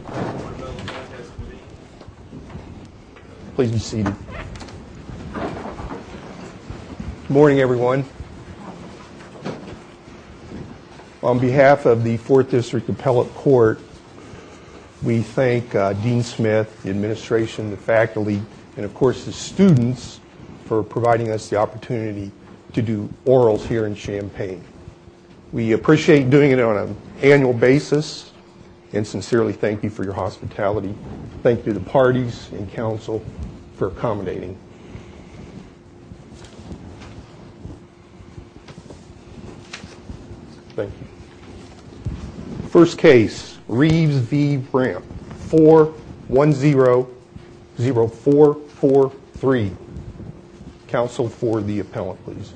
Good morning, everyone. On behalf of the 4th District Appellate Court, we thank Dean Smith, the administration, the faculty, and of course the students for providing us the opportunity to do orals here in Champaign. We appreciate doing it on an annual basis and sincerely thank you for your hospitality. Thank you to the parties and counsel for accommodating. Thank you. First case, Reeves v. Ramp, 4100443. Counsel for the appellant, please.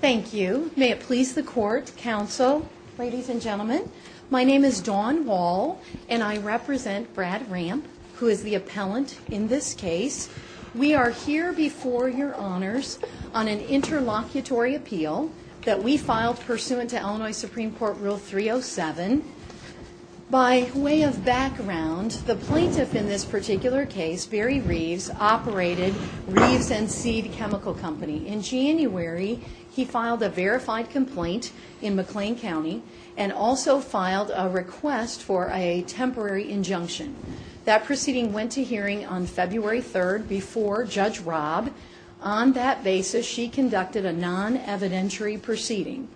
Thank you. May it please the court, counsel, ladies and gentlemen, my name is Dawn Wall and I represent Brad Ramp, who is the appellant in this case. We are here before your honors on an interlocutory appeal that we filed pursuant to Illinois Supreme Court Rule 307. By way of background, the plaintiff in this particular case, Barry Reeves, operated Reeves and Seed Chemical Company. In January, he filed a verified complaint in McLean County and also filed a request for a temporary injunction. That proceeding went to hearing on February 3rd before Judge Robb. On that basis, she conducted a non-evidentiary proceeding.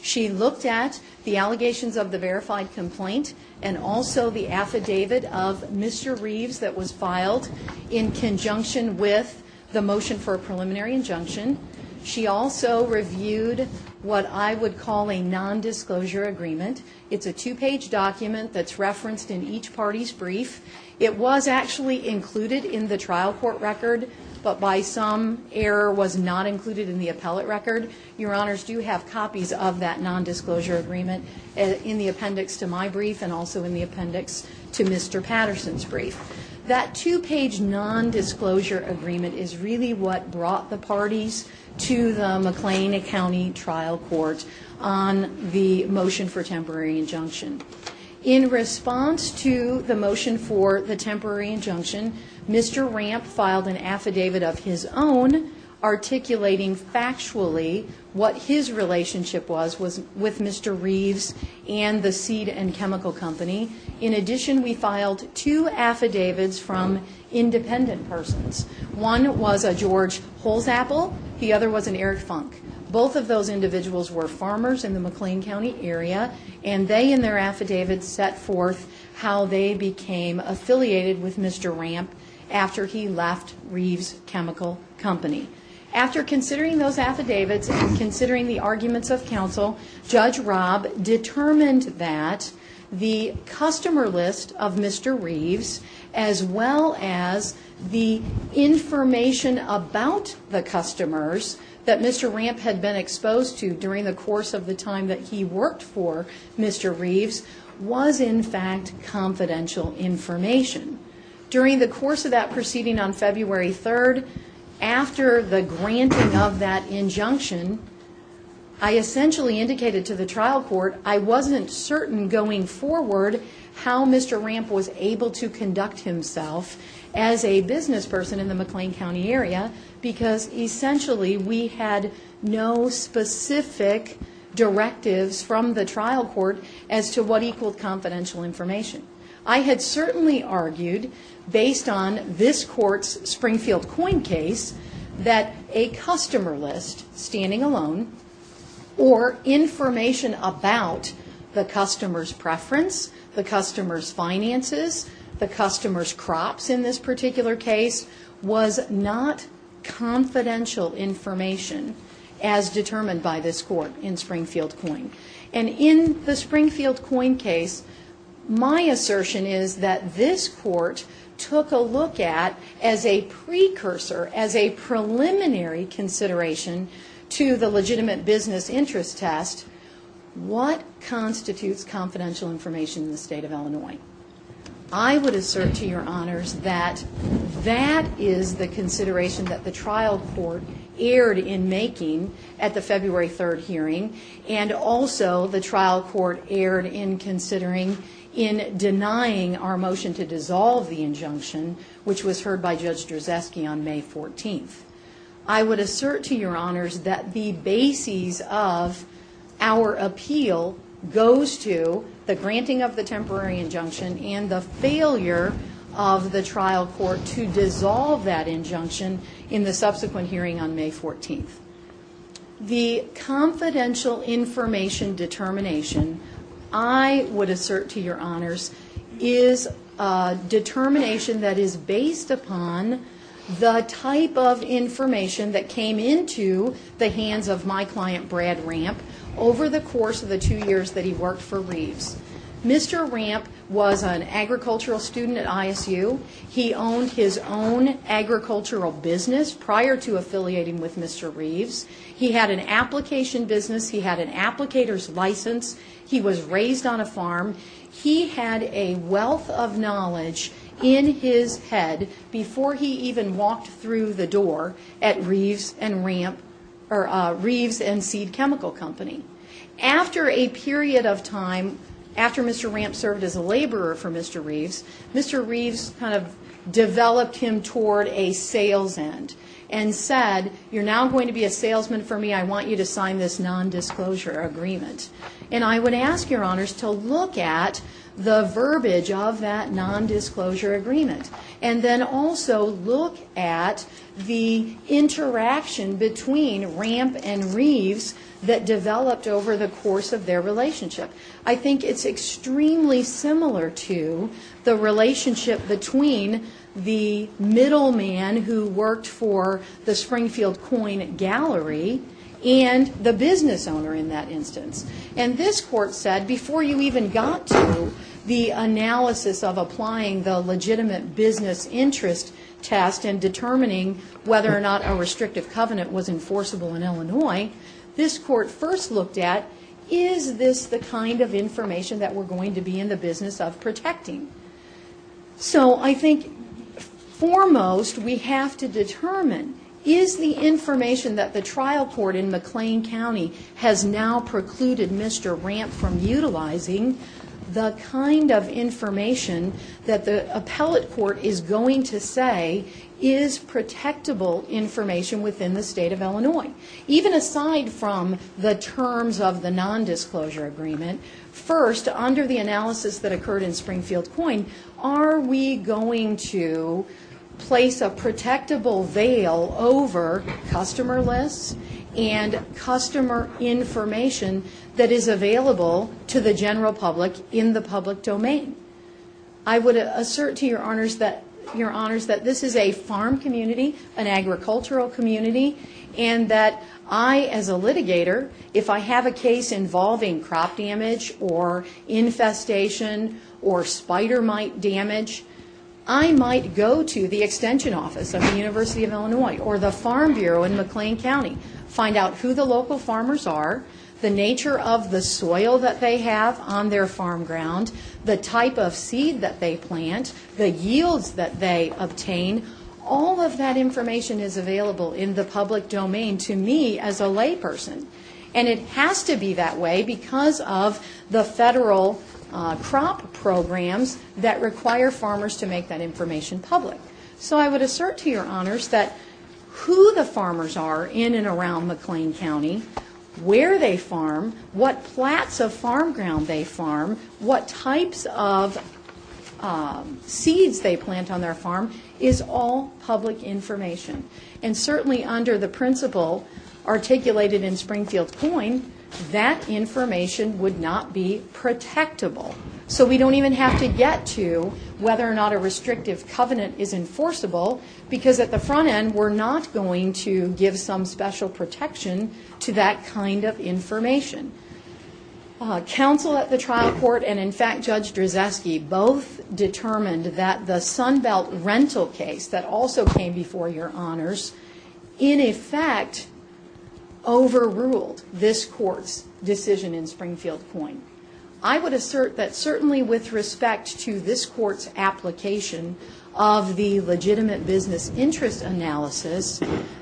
She looked at the allegations of the verified complaint and also the affidavit of Mr. Reeves that was filed in conjunction with the motion for a preliminary injunction. She also reviewed what I would call a non-disclosure agreement. It's a two-page document that's referenced in each party's brief. It was actually included in the trial court record, but by some error was not included in the appellate record. Your honors do have copies of that non-disclosure agreement in the appendix to my brief and also in the appendix to Mr. Patterson's brief. That two-page non-disclosure agreement is really what brought the parties to the McLean County trial court on the motion for temporary injunction. In response to the motion for the temporary injunction, Mr. Ramp filed an affidavit. In addition, we filed two affidavits from independent persons. One was a George Holzapple. The other was an Eric Funk. Both of those individuals were farmers in the McLean County area. They, in their affidavits, set forth how they became affiliated with Mr. Ramp after he left Reeves Chemical Company. After considering those affidavits and considering the arguments of counsel, Judge Robb determined that the customer list of Mr. Reeves, as well as the information about the customers that Mr. Ramp had been exposed to during the course of the time he worked for Mr. Reeves, was in fact confidential information. During the course of that proceeding on February 3rd, after the granting of that injunction, I essentially indicated to the trial court I wasn't certain going forward how Mr. Ramp was able to conduct himself as a business person in the McLean County area because essentially we had no specific directives from the trial court as to what equaled confidential information. I had certainly argued, based on this court's Springfield Coin case, that a customer list, standing alone, or information about the customer's was not confidential information as determined by this court in Springfield Coin. And in the Springfield Coin case, my assertion is that this court took a look at, as a precursor, as a preliminary consideration to the legitimate business interest test, what constitutes confidential information in the state of Illinois. I would assert to your honors that that is the consideration that the trial court erred in making at the February 3rd hearing and also the trial court erred in considering in denying our motion to dissolve the injunction, which was heard by Judge Drzeski on May 14th. I would assert to your honors that the basis of our appeal goes to the granting of the temporary injunction and the failure of the trial court to dissolve that injunction in the subsequent hearing on May 14th. The confidential information determination, I would assert to your the type of information that came into the hands of my client, Brad Ramp, over the course of the two years that he worked for Reeves. Mr. Ramp was an agricultural student at ISU. He owned his own agricultural business prior to affiliating with Mr. Reeves. He had an application business. He had an applicator's license. He was raised on a farm. He had a wealth of knowledge in his head before he even walked through the door at Reeves and Seed Chemical Company. After a period of time, after Mr. Ramp served as a laborer for Mr. Reeves, Mr. Reeves kind of developed him toward a sales end and said, you're now going to be a salesman for me. I want you to sign this non-disclosure agreement. And I would ask your honors to look at the verbiage of that non-disclosure agreement and then also look at the interaction between Ramp and Reeves that developed over the course of their relationship. I think it's extremely similar to the relationship between the middle man who worked for the Springfield Coin Gallery and the business owner in that instance. And this court said, before you even got to the analysis of applying the legitimate business interest test and determining whether or not a restrictive covenant was enforceable in Illinois, this court first looked at, is this the kind of information that we're going to be in the business of protecting? So I think foremost we have to determine, is the information that the trial court in McLean County has now precluded Mr. Ramp from utilizing the kind of information that the appellate court is going to say is protectable information within the state of Illinois? Even aside from the terms of the coin, are we going to place a protectable veil over customer lists and customer information that is available to the general public in the public domain? I would assert to your honors that this is a farm community, an agricultural community, and that I as a litigator, if I have a or spider mite damage, I might go to the extension office of the University of Illinois or the Farm Bureau in McLean County, find out who the local farmers are, the nature of the soil that they have on their farm ground, the type of seed that they plant, the yields that they obtain, all of that information is available in the public domain to me as a layperson. And it has to be that way because of the federal crop programs that require farmers to make that information public. So I would assert to your honors that who the farmers are in and around McLean County, where they farm, what plots of farm ground they farm, what types of seeds they plant on their farm, is all public information. And certainly under the principle articulated in Springfield Coin, that information would not be protectable. So we don't even have to get to whether or not a restrictive covenant is enforceable because at the front end we're not going to give some special protection to that kind of information. Counsel at the trial court and in fact Judge Drzeski both determined that the court's decision in Springfield Coin, I would assert that certainly with respect to this court's application of the legitimate business interest analysis,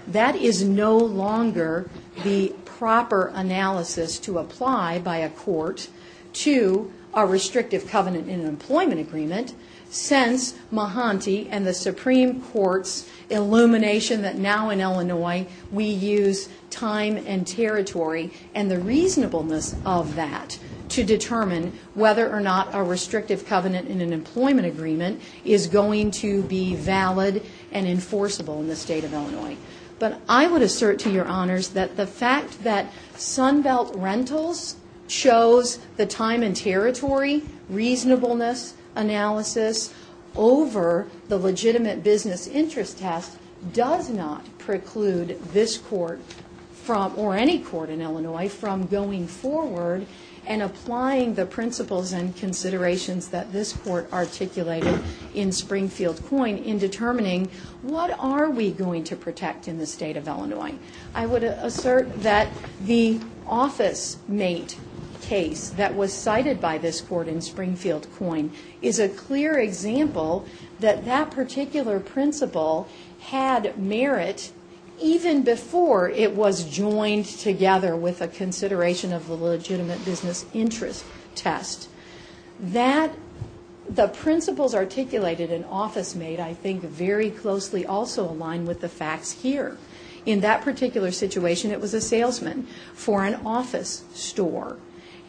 that is no longer the proper analysis to apply by a court to a restrictive covenant in an employment agreement since Mahanti and the illumination that now in Illinois we use time and territory and the reasonableness of that to determine whether or not a restrictive covenant in an employment agreement is going to be valid and enforceable in the state of Illinois. But I would assert to your honors that the fact that Sunbelt Rentals shows the time and territory reasonableness analysis over the legitimate business interest test does not preclude this court from or any court in Illinois from going forward and applying the principles and considerations that this court articulated in Springfield Coin in determining what are we going to protect in the state of Illinois. I would assert that the office mate case that was cited by this court in Springfield Coin is a clear example that that particular principle had merit even before it was joined together with a consideration of the legitimate business interest test. That the principles articulated in office mate I think very closely also align with the facts here. In that particular situation it was a salesman for an office store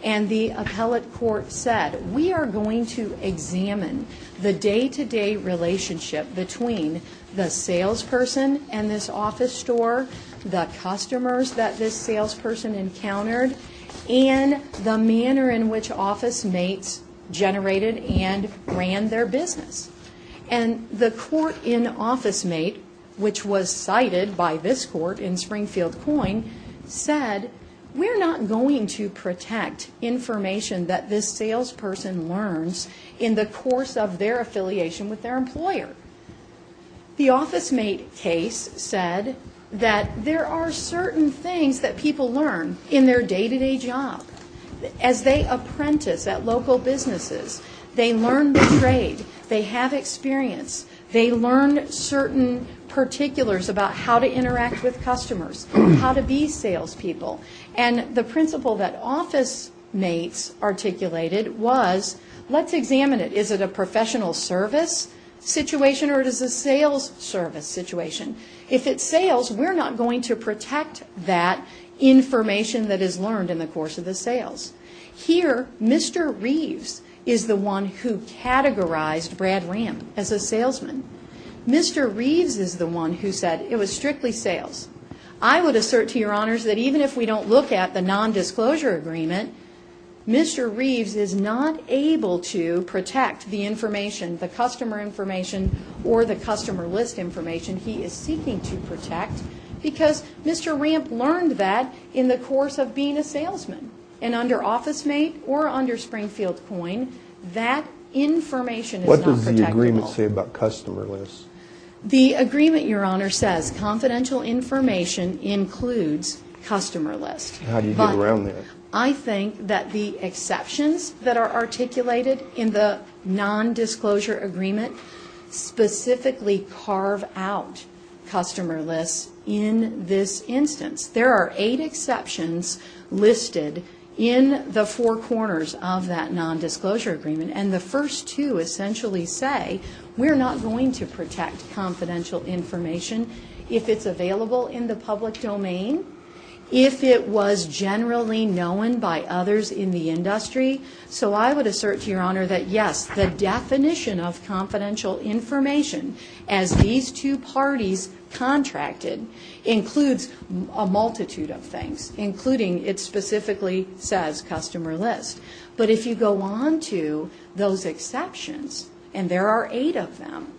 and the appellate court said we are going to examine the day-to-day relationship between the salesperson and this office store, the customers that this salesperson encountered, and the manner in which office mates generated and ran their business. And the court in office mate which was cited by this court in Springfield Coin said we're not going to protect information that this salesperson learns in the course of their affiliation with their employer. The office mate case said that there are certain things that people learn in experience. They learn certain particulars about how to interact with customers, how to be sales people, and the principle that office mates articulated was let's examine it. Is it a professional service situation or is it a sales service situation? If it's sales we're not going to protect that information that is learned in the course of the sales. Here Mr. Reeves is the one who as a salesman. Mr. Reeves is the one who said it was strictly sales. I would assert to your honors that even if we don't look at the non-disclosure agreement, Mr. Reeves is not able to protect the information, the customer information or the customer list information he is seeking to protect because Mr. Ramp learned that in the course of being a salesman and under office mate or under customer list. The agreement your honor says confidential information includes customer list. How do you get around that? I think that the exceptions that are articulated in the non-disclosure agreement specifically carve out customer lists in this instance. There are eight exceptions listed in the four corners of that non-disclosure agreement and the first two essentially say we're not going to protect confidential information if it's available in the public domain, if it was generally known by others in the industry. So I would assert to your honor that yes the definition of confidential information as these two parties contracted includes a multitude of things including it specifically says customer list. But if you go on to those exceptions and there are eight of them,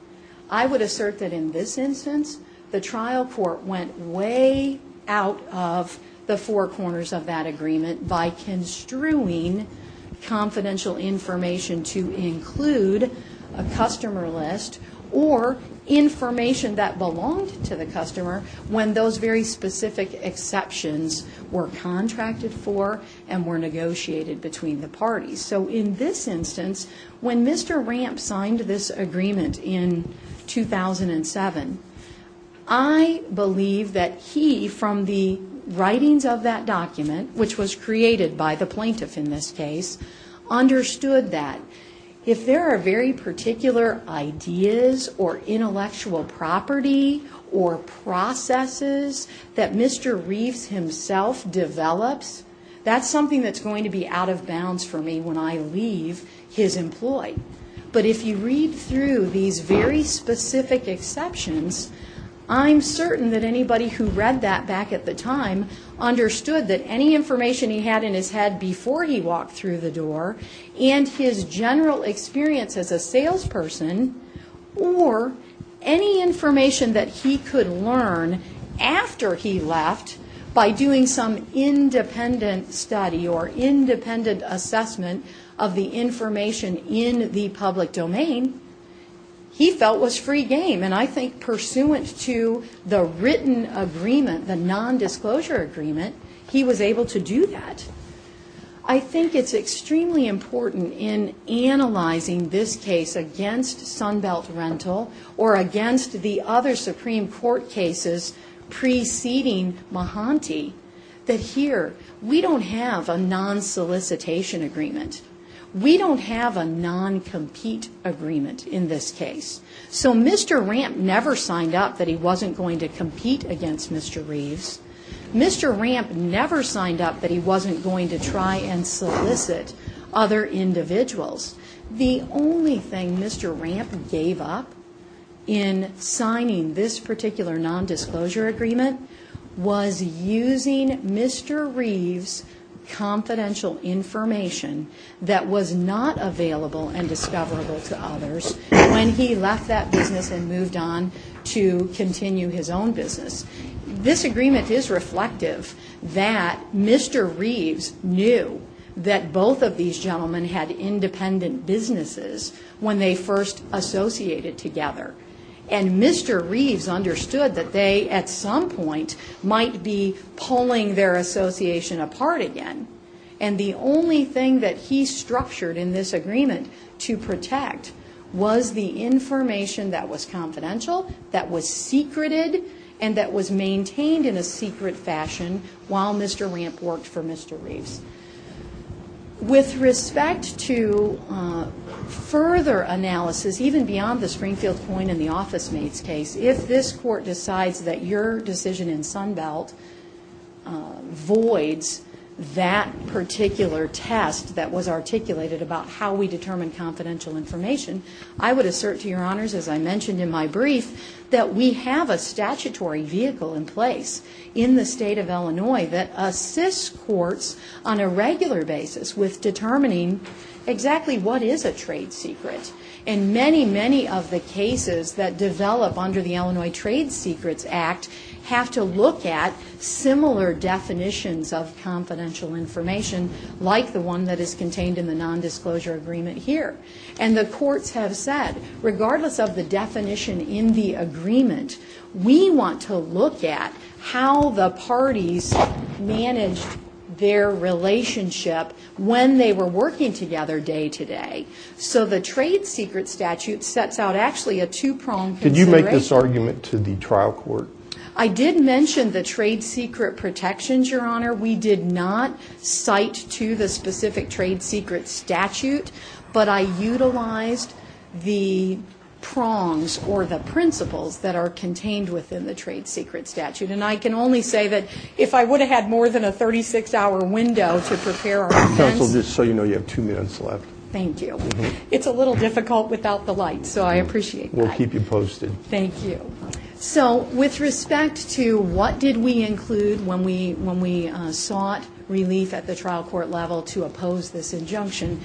I would assert that in this instance the trial court went way out of the four corners of that agreement by construing confidential information to include a customer list or information that belonged to the customer when those very specific exceptions were contracted for and were negotiated between the parties. So in this instance when Mr. Ramp signed this agreement in 2007, I believe that he from the writings of that document which was created by the plaintiff in this case understood that if there are very particular ideas or Mr. Reeves himself develops, that's something that's going to be out of bounds for me when I leave his employee. But if you read through these very specific exceptions, I'm certain that anybody who read that back at the time understood that any information he had in his head before he walked through the door and his general experience as a salesperson or any information that he could learn after he left by doing some independent study or independent assessment of the information in the public domain, he felt was free game. And I think pursuant to the written agreement, the non-disclosure agreement, he was able to do that. I think it's extremely important in analyzing this case against Sunbelt Rental or against the other Supreme Court cases preceding Mahanti that here we don't have a non-solicitation agreement. We don't have a non-compete agreement in this case. So Mr. Ramp never signed up that he wasn't going to compete against Mr. Reeves. Mr. Ramp never signed up that he wasn't going to try and solicit other individuals. The only thing Mr. Ramp gave up in signing this particular non-disclosure agreement was using Mr. Reeves' confidential information that was not available and discoverable to others when he left that business and moved on to continue his own business. This agreement is reflective that Mr. Reeves knew that both of these gentlemen had independent businesses when they first associated together. And Mr. Reeves understood that they, at some point, might be pulling their association apart again. And the only thing that he structured in this agreement to protect was the While Mr. Ramp worked for Mr. Reeves. With respect to further analysis, even beyond the Springfield Coin and the Office Maids case, if this court decides that your decision in Sunbelt voids that particular test that was articulated about how we determine confidential information, I would assert to your honors, as I mentioned in my brief, that we have a statutory vehicle in place in the state of Illinois that assists courts on a regular basis with determining exactly what is a trade secret. And many, many of the cases that develop under the Illinois Trade Secrets Act have to look at similar definitions of confidential information, like the one that is contained in the non-disclosure agreement here. And the courts have said, regardless of the definition in the agreement, we want to look at how the parties managed their relationship when they were working together day-to-day. So the trade secret statute sets out actually a two-pronged consideration. Did you make this argument to the trial court? I did mention the trade secret protections, your honor. We did not cite to the specific trade secret statute, but I utilized the prongs or the principles that are contained within the trade secret statute. And I can only say that if I would have had more than a 36-hour window to prepare our defense... Counsel, just so you know, you have two minutes left. Thank you. It's a little difficult without the lights, so I appreciate that. We'll keep you posted. Thank you. So with respect to what did we include when we sought relief at the trial court level to oppose this injunction,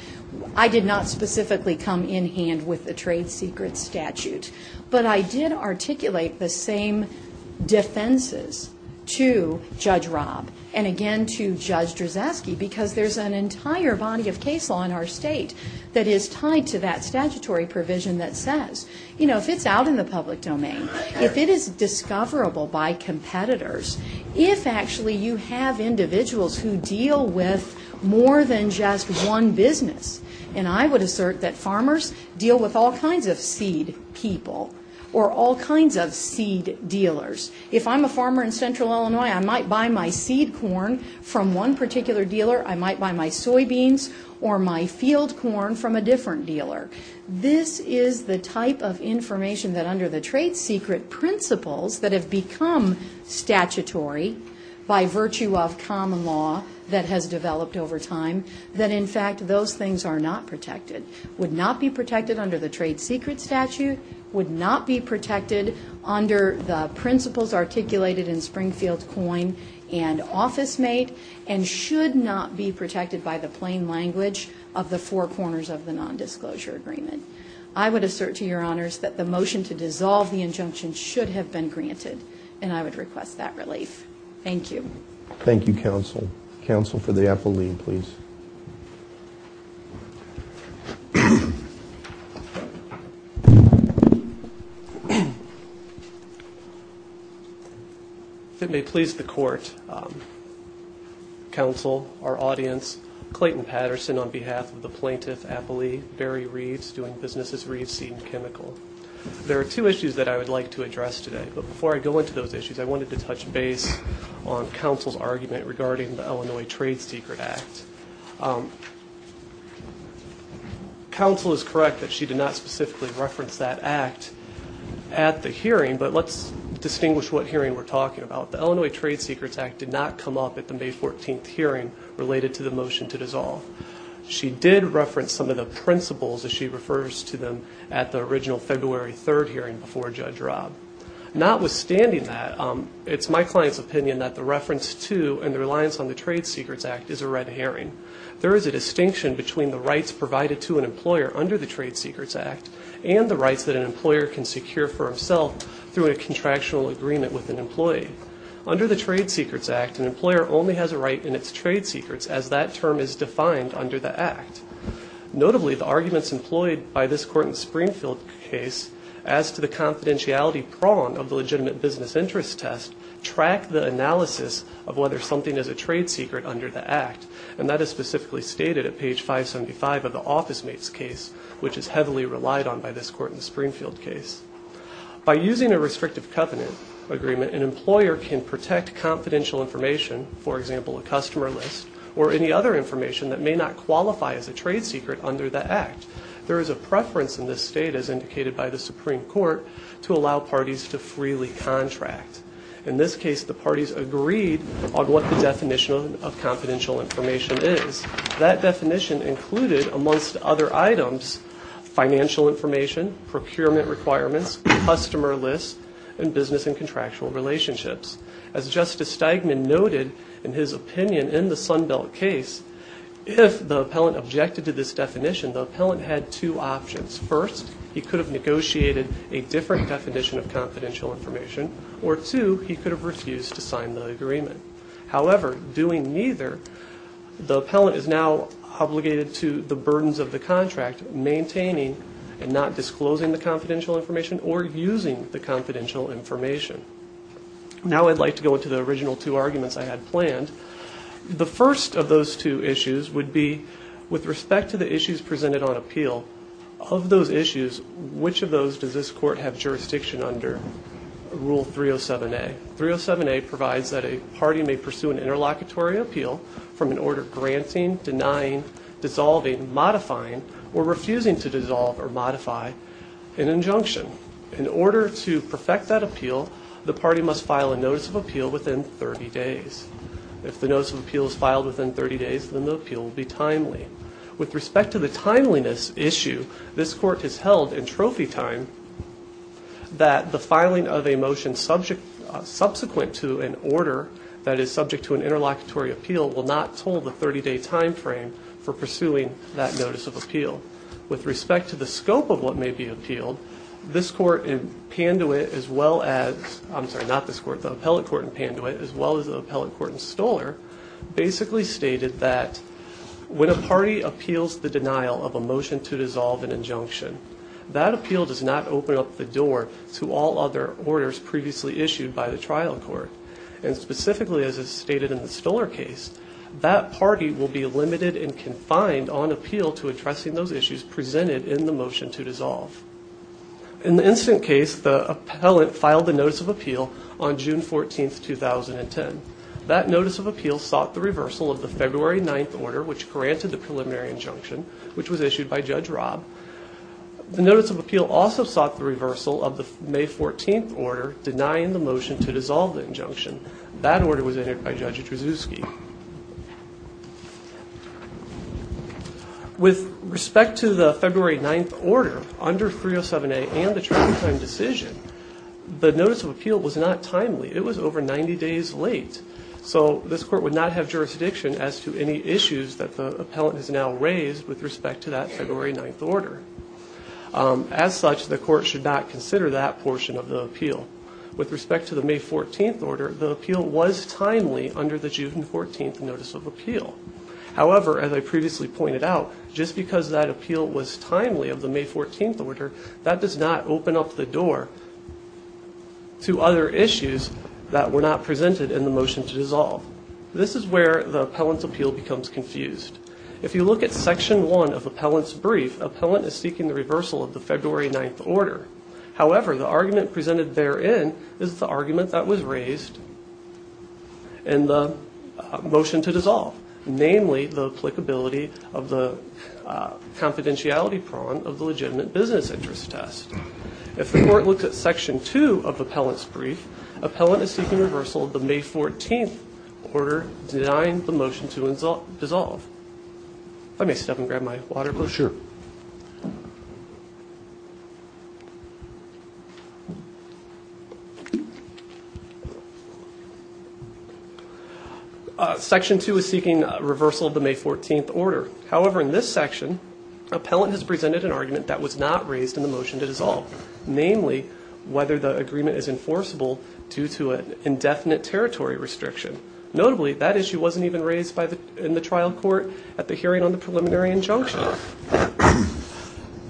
I did not specifically come in hand with the trade secret statute, but I did articulate the same defenses to Judge Robb and again to Judge Drzeski because there's an entire body of case law in our state that is tied to that statutory provision that says, you know, if it's out in the public domain, if it is discoverable by competitors, if actually you have individuals who deal with more than just one business, and I would assert that farmers deal with all kinds of seed people or all kinds of seed dealers. If I'm a farmer in central Illinois, I might buy my seed corn from one particular dealer. I might buy my soybeans or my field corn from a different dealer. This is the type of information that under the trade secret principles that have become statutory by virtue of common law that has developed over time, that in fact those things are not protected, would not be protected under the trade secret statute, would not be protected under the principles articulated in Springfield Coin and OfficeMate, and should not be protected by the plain language of the four corners of the nondisclosure agreement. I would assert to that relief. Thank you. Thank you, counsel. Counsel for the appellee, please. If it may please the court, counsel, our audience, Clayton Patterson on behalf of the plaintiff appellee, Barry Reeves, doing business as Reeves Seed and Chemical. There are two issues that I wanted to touch base on counsel's argument regarding the Illinois Trade Secrets Act. Counsel is correct that she did not specifically reference that act at the hearing, but let's distinguish what hearing we're talking about. The Illinois Trade Secrets Act did not come up at the May 14th hearing related to the motion to dissolve. She did reference some of the principles as she It's my client's opinion that the reference to and the reliance on the Trade Secrets Act is a red herring. There is a distinction between the rights provided to an employer under the Trade Secrets Act and the rights that an employer can secure for himself through a contractual agreement with an employee. Under the Trade Secrets Act, an employer only has a right in its trade secrets as that term is defined under the act. Notably, the arguments employed by this Court in Springfield case as to the confidentiality prong of the legitimate business interest test track the analysis of whether something is a trade secret under the act, and that is specifically stated at page 575 of the office mates case, which is heavily relied on by this Court in Springfield case. By using a restrictive covenant agreement, an employer can protect confidential information, for example, a customer list or any other information that may not qualify as a trade secret under the act. There is a preference in this state as indicated by the Supreme Court to allow parties to freely contract. In this case, the parties agreed on what the definition of confidential information is. That definition included, amongst other items, financial information, procurement requirements, customer lists, and business and contractual relationships. As Justice Steigman noted in his opinion in the Sunbelt case, if the appellant objected this definition, the appellant had two options. First, he could have negotiated a different definition of confidential information, or two, he could have refused to sign the agreement. However, doing neither, the appellant is now obligated to the burdens of the contract, maintaining and not disclosing the confidential information or using the confidential information. Now I'd like to go into the original two arguments I had planned. The first of those two issues would be, with respect to the issues presented on appeal, of those issues, which of those does this court have jurisdiction under Rule 307A? 307A provides that a party may pursue an interlocutory appeal from an order granting, denying, dissolving, modifying, or refusing to dissolve or modify an injunction. In order to perfect that appeal, the party must file a notice of appeal within 30 days. If the notice of appeal is filed within 30 days, then the appeal will be timely. With respect to the timeliness issue, this court has held in trophy time that the filing of a motion subsequent to an order that is subject to an interlocutory appeal will not toll the 30-day timeframe for pursuing that notice of appeal. With respect to the scope of what may be appealed, this court in Panduit as well as, I'm sorry, not this court, the appellate court in Panduit, as well as the appellate court in Stoler, basically stated that when a party appeals the denial of a motion to dissolve an injunction, that appeal does not open up the door to all other orders previously issued by the trial court. And specifically, as is stated in the Stoler case, that party will be limited and confined on appeal to addressing those issues presented in the motion to dissolve. In the instant case, the appellate filed the notice of appeal on June 14, 2010. That notice of appeal sought the reversal of the February 9th order, which granted the preliminary injunction, which was issued by Judge Robb. The notice of appeal also sought the reversal of the May 14th order denying the motion to dissolve the injunction. That order was entered by Judge Jadrzewski. With respect to the February 9th order, under 307A and the trial time decision, the notice of appeal was not timely. It was over 90 days late. So this court would not have jurisdiction as to any issues that the appellant has now raised with respect to that February 9th order. As such, the court should not consider that portion of the appeal. With respect to the May 14th order, the appeal was timely under the June 14th notice of appeal. However, as I previously pointed out, just because that appeal was timely of the May 14th order, that does not open up the door to other issues that were not presented in the motion to dissolve. This is where the appellant's appeal becomes confused. If you look at section one of appellant's brief, appellant is seeking the reversal of the February 9th order. However, the argument presented therein is the argument that was raised in the motion to dissolve, namely the applicability of the confidentiality prong of the legitimate business interest test. If the court looks at section two of appellant's brief, appellant is seeking reversal of the May 14th order denying the motion to dissolve. Section two is seeking reversal of the May 14th order. However, in this section, appellant has presented an argument that was not raised in the motion to dissolve, namely whether the agreement is enforceable due to an indefinite territory restriction. Notably, that issue wasn't even raised by the in the trial due to an indefinite territory restriction.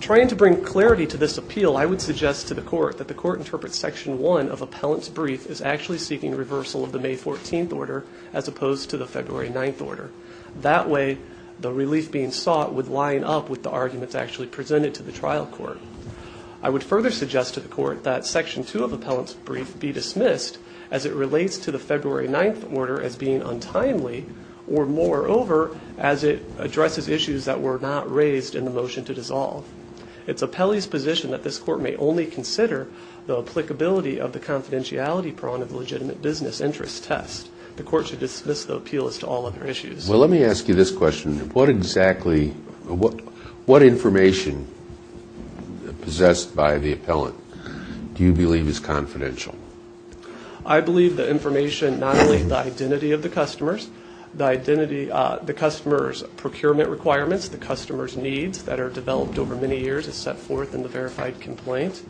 Trying to bring clarity to this appeal, I would suggest to the court that the court interprets section one of appellant's brief is actually seeking reversal of the May 14th order as opposed to the February 9th order. That way, the relief being sought would line up with the arguments actually presented to the trial court. I would further suggest to the court that section two of appellant's brief be dismissed as it relates to the February 9th order as being untimely, or moreover, as it addresses issues that were not raised in the motion to dissolve. It's appellee's position that this court may only consider the applicability of the confidentiality prong of the legitimate business interest test. The court should dismiss the appeal as to all other issues. Well, let me ask you this question. What exactly, what information possessed by the appellant do you believe is confidential? I believe the identity, the customer's procurement requirements, the customer's needs that are developed over many years is set forth in the verified complaint.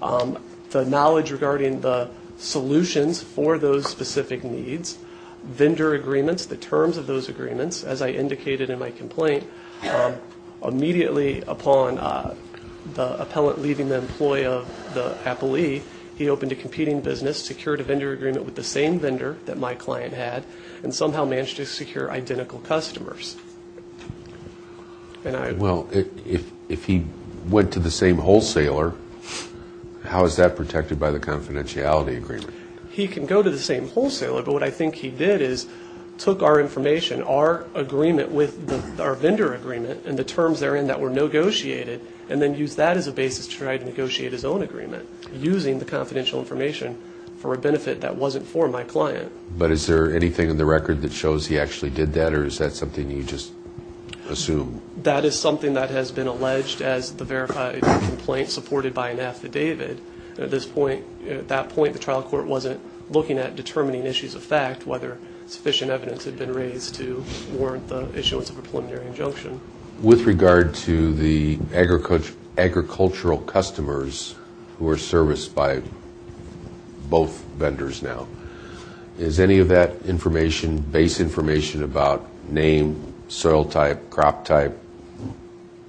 The knowledge regarding the solutions for those specific needs, vendor agreements, the terms of those agreements, as I indicated in my complaint, immediately upon the appellant leaving the employee of the appellee, he opened a competing business, secured a vendor agreement with the same vendor that my client had, and somehow managed to secure identical customers. Well, if he went to the same wholesaler, how is that protected by the confidentiality agreement? He can go to the same wholesaler, but what I think he did is took our information, our agreement with our vendor agreement, and the terms therein that were negotiated, and then used that as a basis to try to negotiate his own agreement, using the confidential information for a benefit that wasn't for my client. So, is that something that shows he actually did that, or is that something you just assume? That is something that has been alleged as the verified complaint supported by an affidavit. At this point, at that point, the trial court wasn't looking at determining issues of fact, whether sufficient evidence had been raised to warrant the issuance of a preliminary injunction. With regard to the agricultural customers who are serviced by both vendors now, is any of that information, base information about name, soil type, crop type,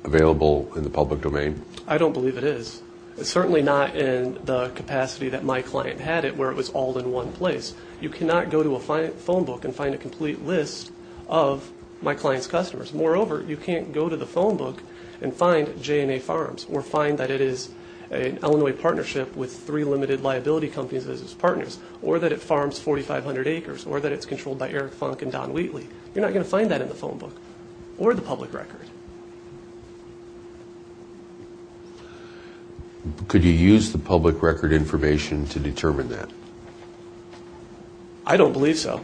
available in the public domain? I don't believe it is. It's certainly not in the capacity that my client had it, where it was all in one place. You cannot go to a phone book and find a complete list of my client's customers. Moreover, you can't go to the phone book and find J&A Farms, or find that it is an Illinois partnership with three limited liability companies as its partners, or that it farms 4,500 acres, or that it's controlled by Eric Funk and Don Wheatley. You're not going to find that in the phone book, or the public record. Could you use the public record information to determine that? I don't believe so.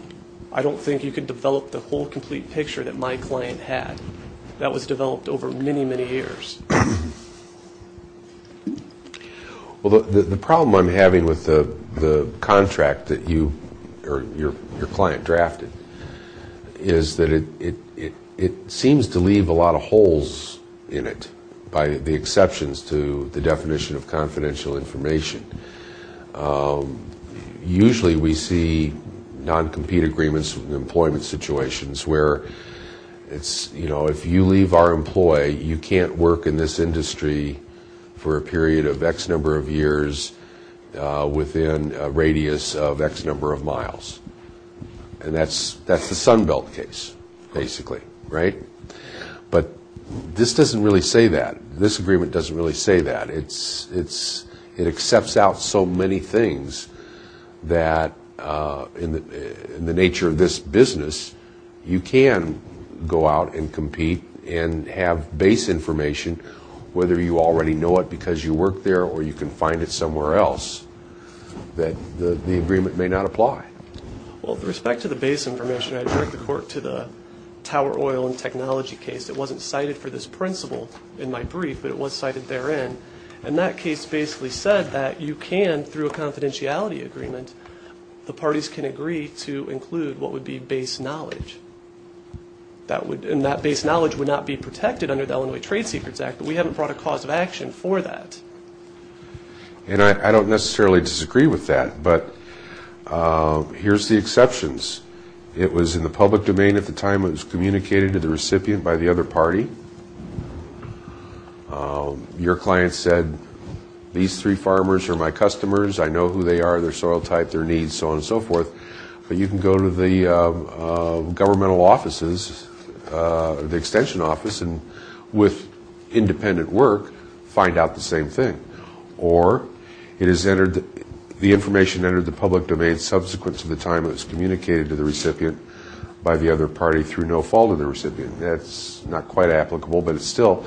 I don't think you could develop the whole complete picture that my client had that was developed over many, many years. The problem I'm having with the contract that your client drafted is that it seems to leave a lot of holes in it, by the exceptions to the definition of confidential information. Usually we see non-compete agreements with situations where it's, you know, if you leave our employ, you can't work in this industry for a period of X number of years within a radius of X number of miles. And that's the Sunbelt case, basically, right? But this doesn't really say that. This agreement doesn't really say that. It accepts out so many things that in the nature of this business, you can go out and compete and have base information, whether you already know it because you work there or you can find it somewhere else, that the agreement may not apply. Well, with respect to the base information, I direct the court to the tower oil and technology case. It wasn't cited for this principle in my brief, but it was cited therein. And that case basically said that you can, through a confidentiality agreement, the parties can agree to include what would be base knowledge. And that base knowledge would not be protected under the Illinois Trade Secrets Act, but we haven't brought a cause of action for that. And I don't necessarily disagree with that, but here's the exceptions. It was in the public domain at the time. It was communicated to the recipient by the other party. Your client said, these three farmers are my customers. I know who they are, their soil type, their needs, so on and so forth. But you can go to the governmental offices, the extension office, and with independent work, find out the same thing. Or it is entered, the information entered the public domain subsequent to the time it was communicated to the recipient by the other party through no fault of the recipient. That's not quite applicable, but still,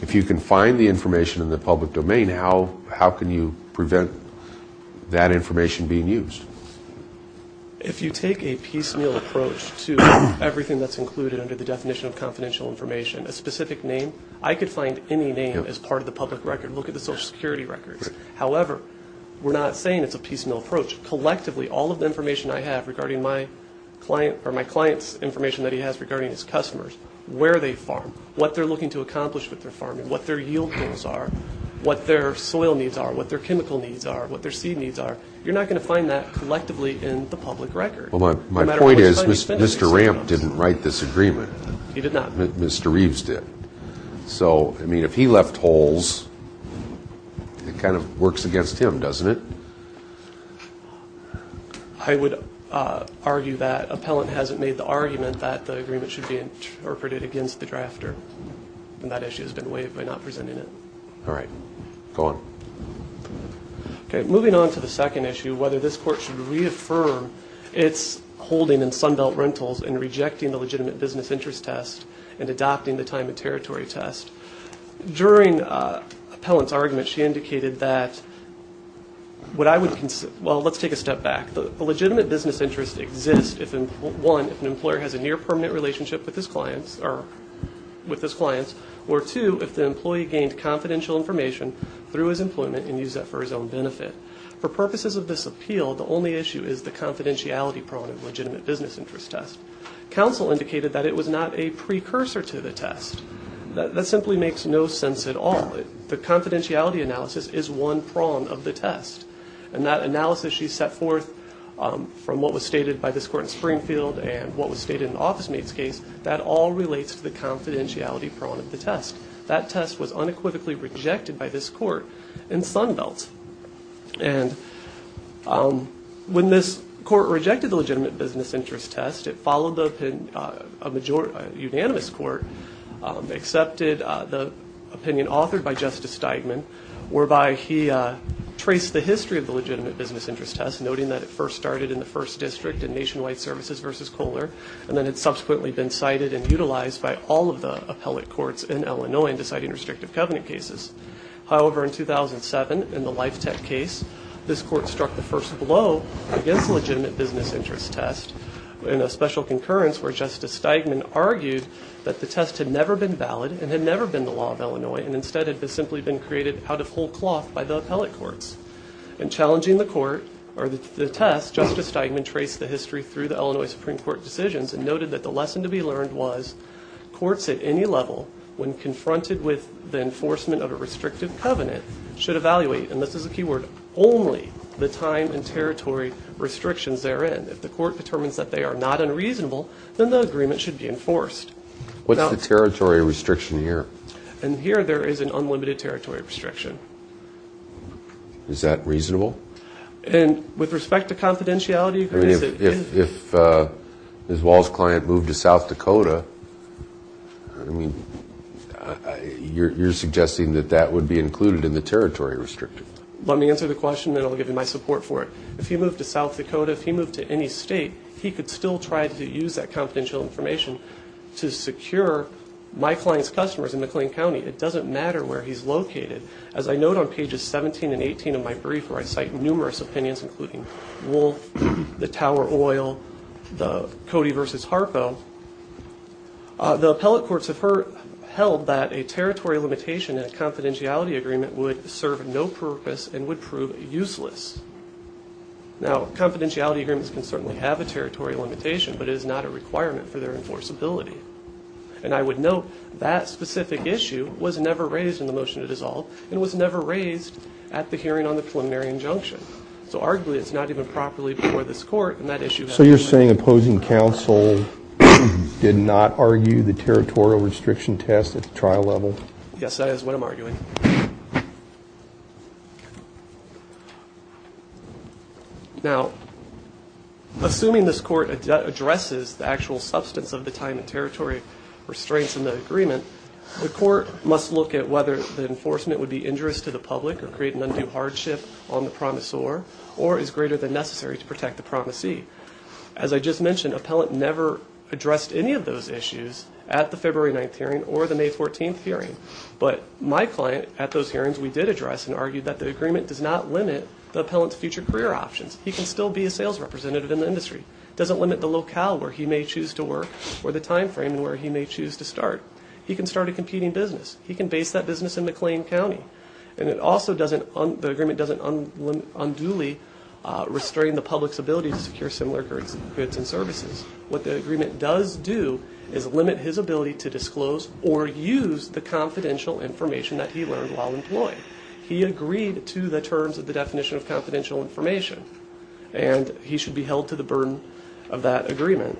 if you can find the information in the public domain, how can you prevent that information being used? If you take a piecemeal approach to everything that's included under the definition of confidential information, a specific name, I could find any name as part of the public record. Look at the Social Security records. However, we're not saying it's a piecemeal approach. Collectively, all of the information I have regarding my client or my client's information that he has regarding his customers, where they farm, what they're looking to accomplish with their farming, what their yield goals are, what their soil needs are, what their chemical needs are, what their seed needs are, you're not going to find that collectively in the public record. Well, my point is, Mr. Ramp didn't write this agreement. He did not. Mr. Reeves did. So, I mean, if he left holes, it kind of works against him, doesn't it? I would argue that Appellant hasn't made the argument that the agreement should be interpreted against the drafter. And that issue has been waived by not presenting it. All right. Go on. Okay. Moving on to the second issue, whether this court should reaffirm its holding in Sunbelt Rentals and rejecting the legitimate business interest test and adopting the time and territory test. During Appellant's argument, she indicated that what I would say is that let's take a step back. A legitimate business interest exists, one, if an employer has a near-permanent relationship with his clients, or two, if the employee gained confidential information through his employment and used that for his own benefit. For purposes of this appeal, the only issue is the confidentiality prong of legitimate business interest test. Counsel indicated that it was not a precursor to the test. That simply makes no sense at all. The confidentiality analysis is one prong of the test. And that analysis she set forth from what was stated by this court in Springfield and what was stated in OfficeMate's case, that all relates to the confidentiality prong of the test. That test was unequivocally rejected by this court in Sunbelt. And when this court rejected the legitimate business interest test, it followed a unanimous court, accepted the opinion authored by Justice Steigman, whereby he traced the history of the legitimate business interest test, noting that it first started in the first district in Nationwide Services v. Kohler, and then it subsequently been cited and utilized by all of the appellate courts in Illinois in deciding restrictive covenant cases. However, in 2007, in the Lifetech case, this court struck the first blow against concurrence where Justice Steigman argued that the test had never been valid and had never been the law of Illinois and instead had simply been created out of whole cloth by the appellate courts. In challenging the court or the test, Justice Steigman traced the history through the Illinois Supreme Court decisions and noted that the lesson to be learned was courts at any level, when confronted with the enforcement of a restrictive covenant, should evaluate, and this is a key word, only the time and territory restrictions therein. If the court determines that they are not unreasonable, then the agreement should be enforced. What's the territory restriction here? And here, there is an unlimited territory restriction. Is that reasonable? And with respect to confidentiality... I mean, if Ms. Wall's client moved to South Dakota, I mean, you're suggesting that that would be included in the territory restriction? Let me answer the question, then I'll give you my support for it. If he moved to South Dakota, if he moved to any state, he could still try to use that confidential information to secure my client's customers in McLean County. It doesn't matter where he's located. As I note on pages 17 and 18 of my brief, where I cite numerous opinions, including Wolf, the Tower Oil, the Cody v. Harpo, the appellate courts have held that a territory limitation in a confidentiality agreement would serve no purpose and would prove useless. Now, confidentiality agreements can certainly have a territory limitation, but it is not a requirement for their enforceability. And I would note that specific issue was never raised in the motion to dissolve and was never raised at the hearing on the preliminary injunction. So arguably, it's not even properly before this court and that issue... So you're saying opposing counsel did not argue the territorial restriction test at the trial level? Yes, that is what I'm arguing. Okay. Now, assuming this court addresses the actual substance of the time and territory restraints in the agreement, the court must look at whether the enforcement would be injurious to the public or create an undue hardship on the promisor or is greater than necessary to protect the promisee. As I just mentioned, appellate never addressed any of those issues at the February 9th hearing or the May 14th hearing. But my client at those hearings, we did address and argue that the agreement does not limit the appellant's future career options. He can still be a sales representative in the industry. It doesn't limit the locale where he may choose to work or the timeframe where he may choose to start. He can start a competing business. He can base that business in McLean County. And it also doesn't... The agreement doesn't unduly restrain the public's ability to secure similar goods and services. What the agreement does do is limit his ability to disclose or use the confidential information that he learned while employed. He agreed to the terms of the definition of confidential information. And he should be held to the burden of that agreement.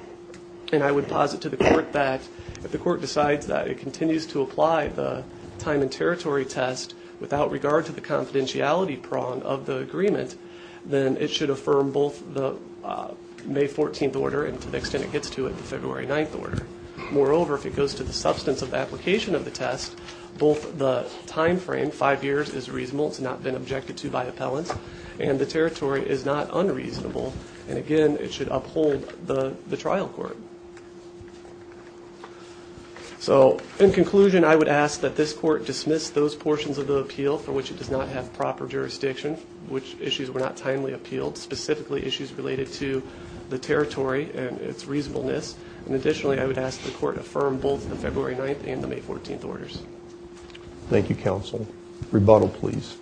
And I would posit to the court that if the court decides that it continues to apply the time and territory test without regard to the confidentiality prong of the agreement, then it should affirm both the May 14th order and to the extent it gets to it, the February 9th order. Moreover, if it goes to the substance of the application of the test, both the timeframe, five years, is reasonable. It's not been objected to by appellants. And the territory is not unreasonable. And again, it should uphold the trial court. So in conclusion, I would ask that this court dismiss those portions of the appeal for which it does not have proper jurisdiction, which is specifically issues related to the territory and its reasonableness. And additionally, I would ask the court affirm both the February 9th and the May 14th orders. Thank you, counsel. Rebuttal, please.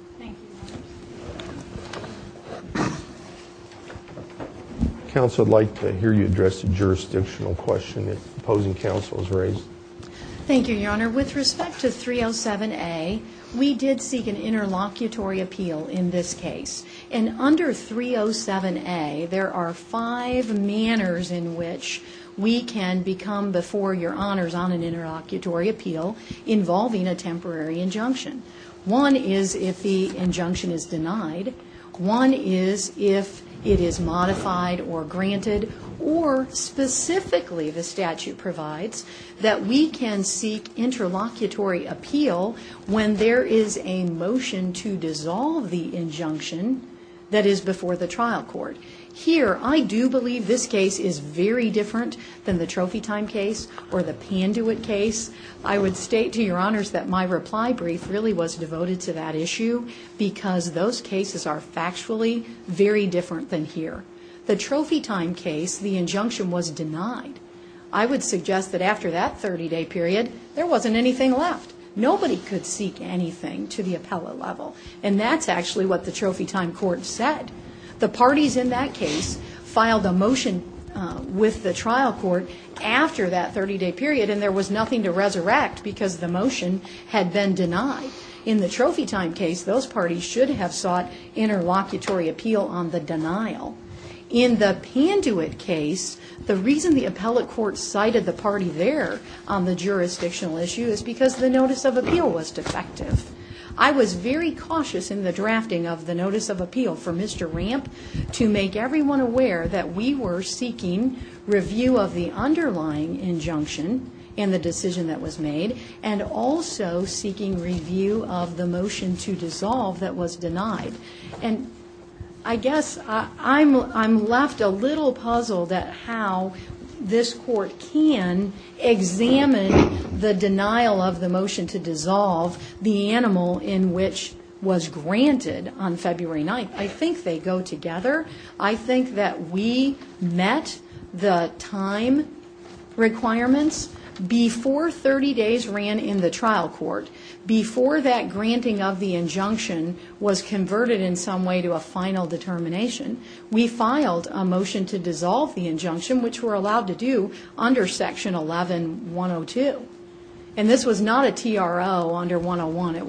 Counsel, I'd like to hear you address the jurisdictional question that opposing counsel has raised. Thank you, Your Honor. With respect to 307A, we did seek an interlocutory appeal in this case. And under 307A, there are five manners in which we can become before Your Honors on an interlocutory appeal involving a temporary injunction. One is if the injunction is denied. One is if it is modified or granted. Or specifically, the statute provides that we that is before the trial court. Here, I do believe this case is very different than the Trophy Time case or the Panduit case. I would state to Your Honors that my reply brief really was devoted to that issue because those cases are factually very different than here. The Trophy Time case, the injunction was denied. I would suggest that after that 30-day period, there wasn't anything left. Nobody could seek anything to the appellate level. And that's actually what the Trophy Time court said. The parties in that case filed a motion with the trial court after that 30-day period, and there was nothing to resurrect because the motion had been denied. In the Trophy Time case, those parties should have sought interlocutory appeal on the denial. In the Panduit case, the reason the appellate court cited the party there on the jurisdictional issue is because the notice of appeal was defective. I was very cautious in the drafting of the notice of appeal for Mr. Ramp to make everyone aware that we were seeking review of the underlying injunction and the decision that was made, and also seeking review of the motion to dissolve that was denied. And I guess I'm left a little puzzled at how this court can examine the denial of the motion to dissolve the animal in which was granted on February 9th. I think they go together. I think that we met the time requirements before 30 days ran in the trial court. Before that granting of the injunction was converted in some way to a final determination, we filed a motion to dissolve the injunction, which we're allowed to do under Section 11-102. And this was not a TRO under 101. It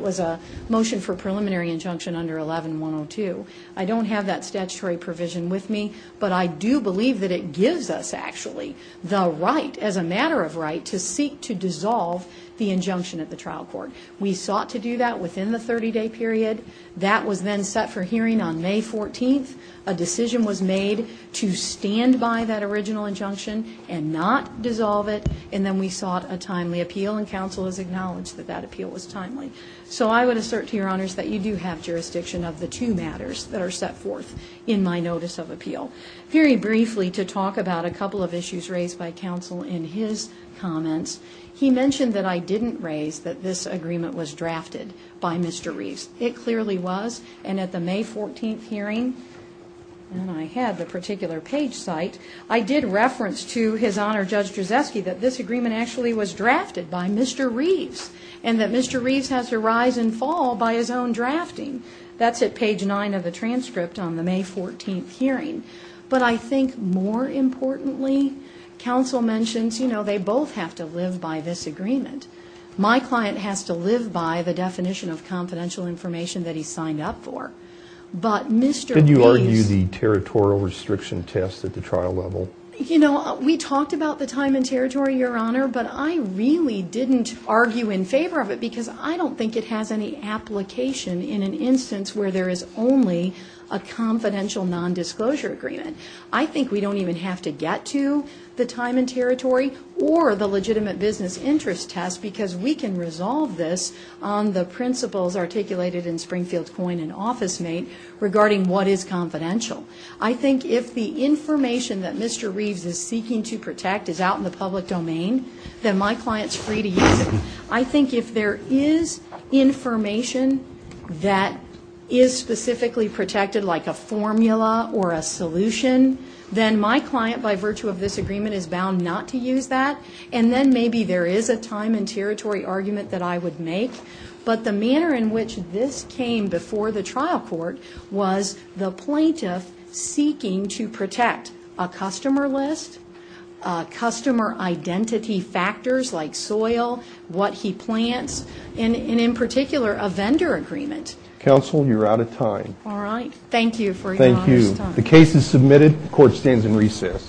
was a motion for preliminary injunction under 11-102. I don't have that statutory provision with me, but I do believe that it gives us actually the right, as a matter of right, to seek to dissolve the injunction at the trial court. We sought to do that within the 30-day period. That was then set for hearing on May 14th. A decision was made to stand by that original injunction and not dissolve it, and then we sought a timely appeal, and counsel has acknowledged that that appeal was timely. So I would assert to your honors that you do have jurisdiction of the two matters that are set forth in my notice of appeal. Very briefly, to talk about a couple of issues raised by counsel in his comments. He mentioned that I didn't raise that this agreement was drafted by Mr. Reeves. It clearly was, and at the May 14th hearing, and I had the particular page cite, I did reference to his honor, Judge Drzeski, that this agreement actually was drafted by Mr. Reeves, and that Mr. Reeves has to rise and fall by his own drafting. That's at page 9 of the transcript on the May 14th hearing. But I think more importantly, counsel mentions, you know, they both have to live by this agreement. My client has to live by the definition of confidential information that he signed up for. But Mr. Reeves... Did you argue the territorial restriction test at the trial level? You know, we talked about the time and territory, your honor, but I really didn't argue in favor of it because I don't think it has any application in an instance where there is only a confidential nondisclosure agreement. I think we don't even have to get to the time and territory or the legitimate business interest test because we can resolve this on the principles articulated in Springfield Coin and OfficeMate regarding what is confidential. I think if the information that Mr. Reeves is seeking to protect is out in the public domain, then my client's free to use it. I think if there is information that is specifically protected, like a formula or a solution, then my client, by virtue of this agreement, is bound not to use that. And then maybe there is a time and territory argument that I would make. But the manner in which this came before the trial court was the plaintiff seeking to protect a customer list, customer identity factors like soil, what he plants, and in particular a vendor agreement. Counsel, you're out of time. All right. Thank you for your time. Thank you. The case is submitted. Court stands in recess.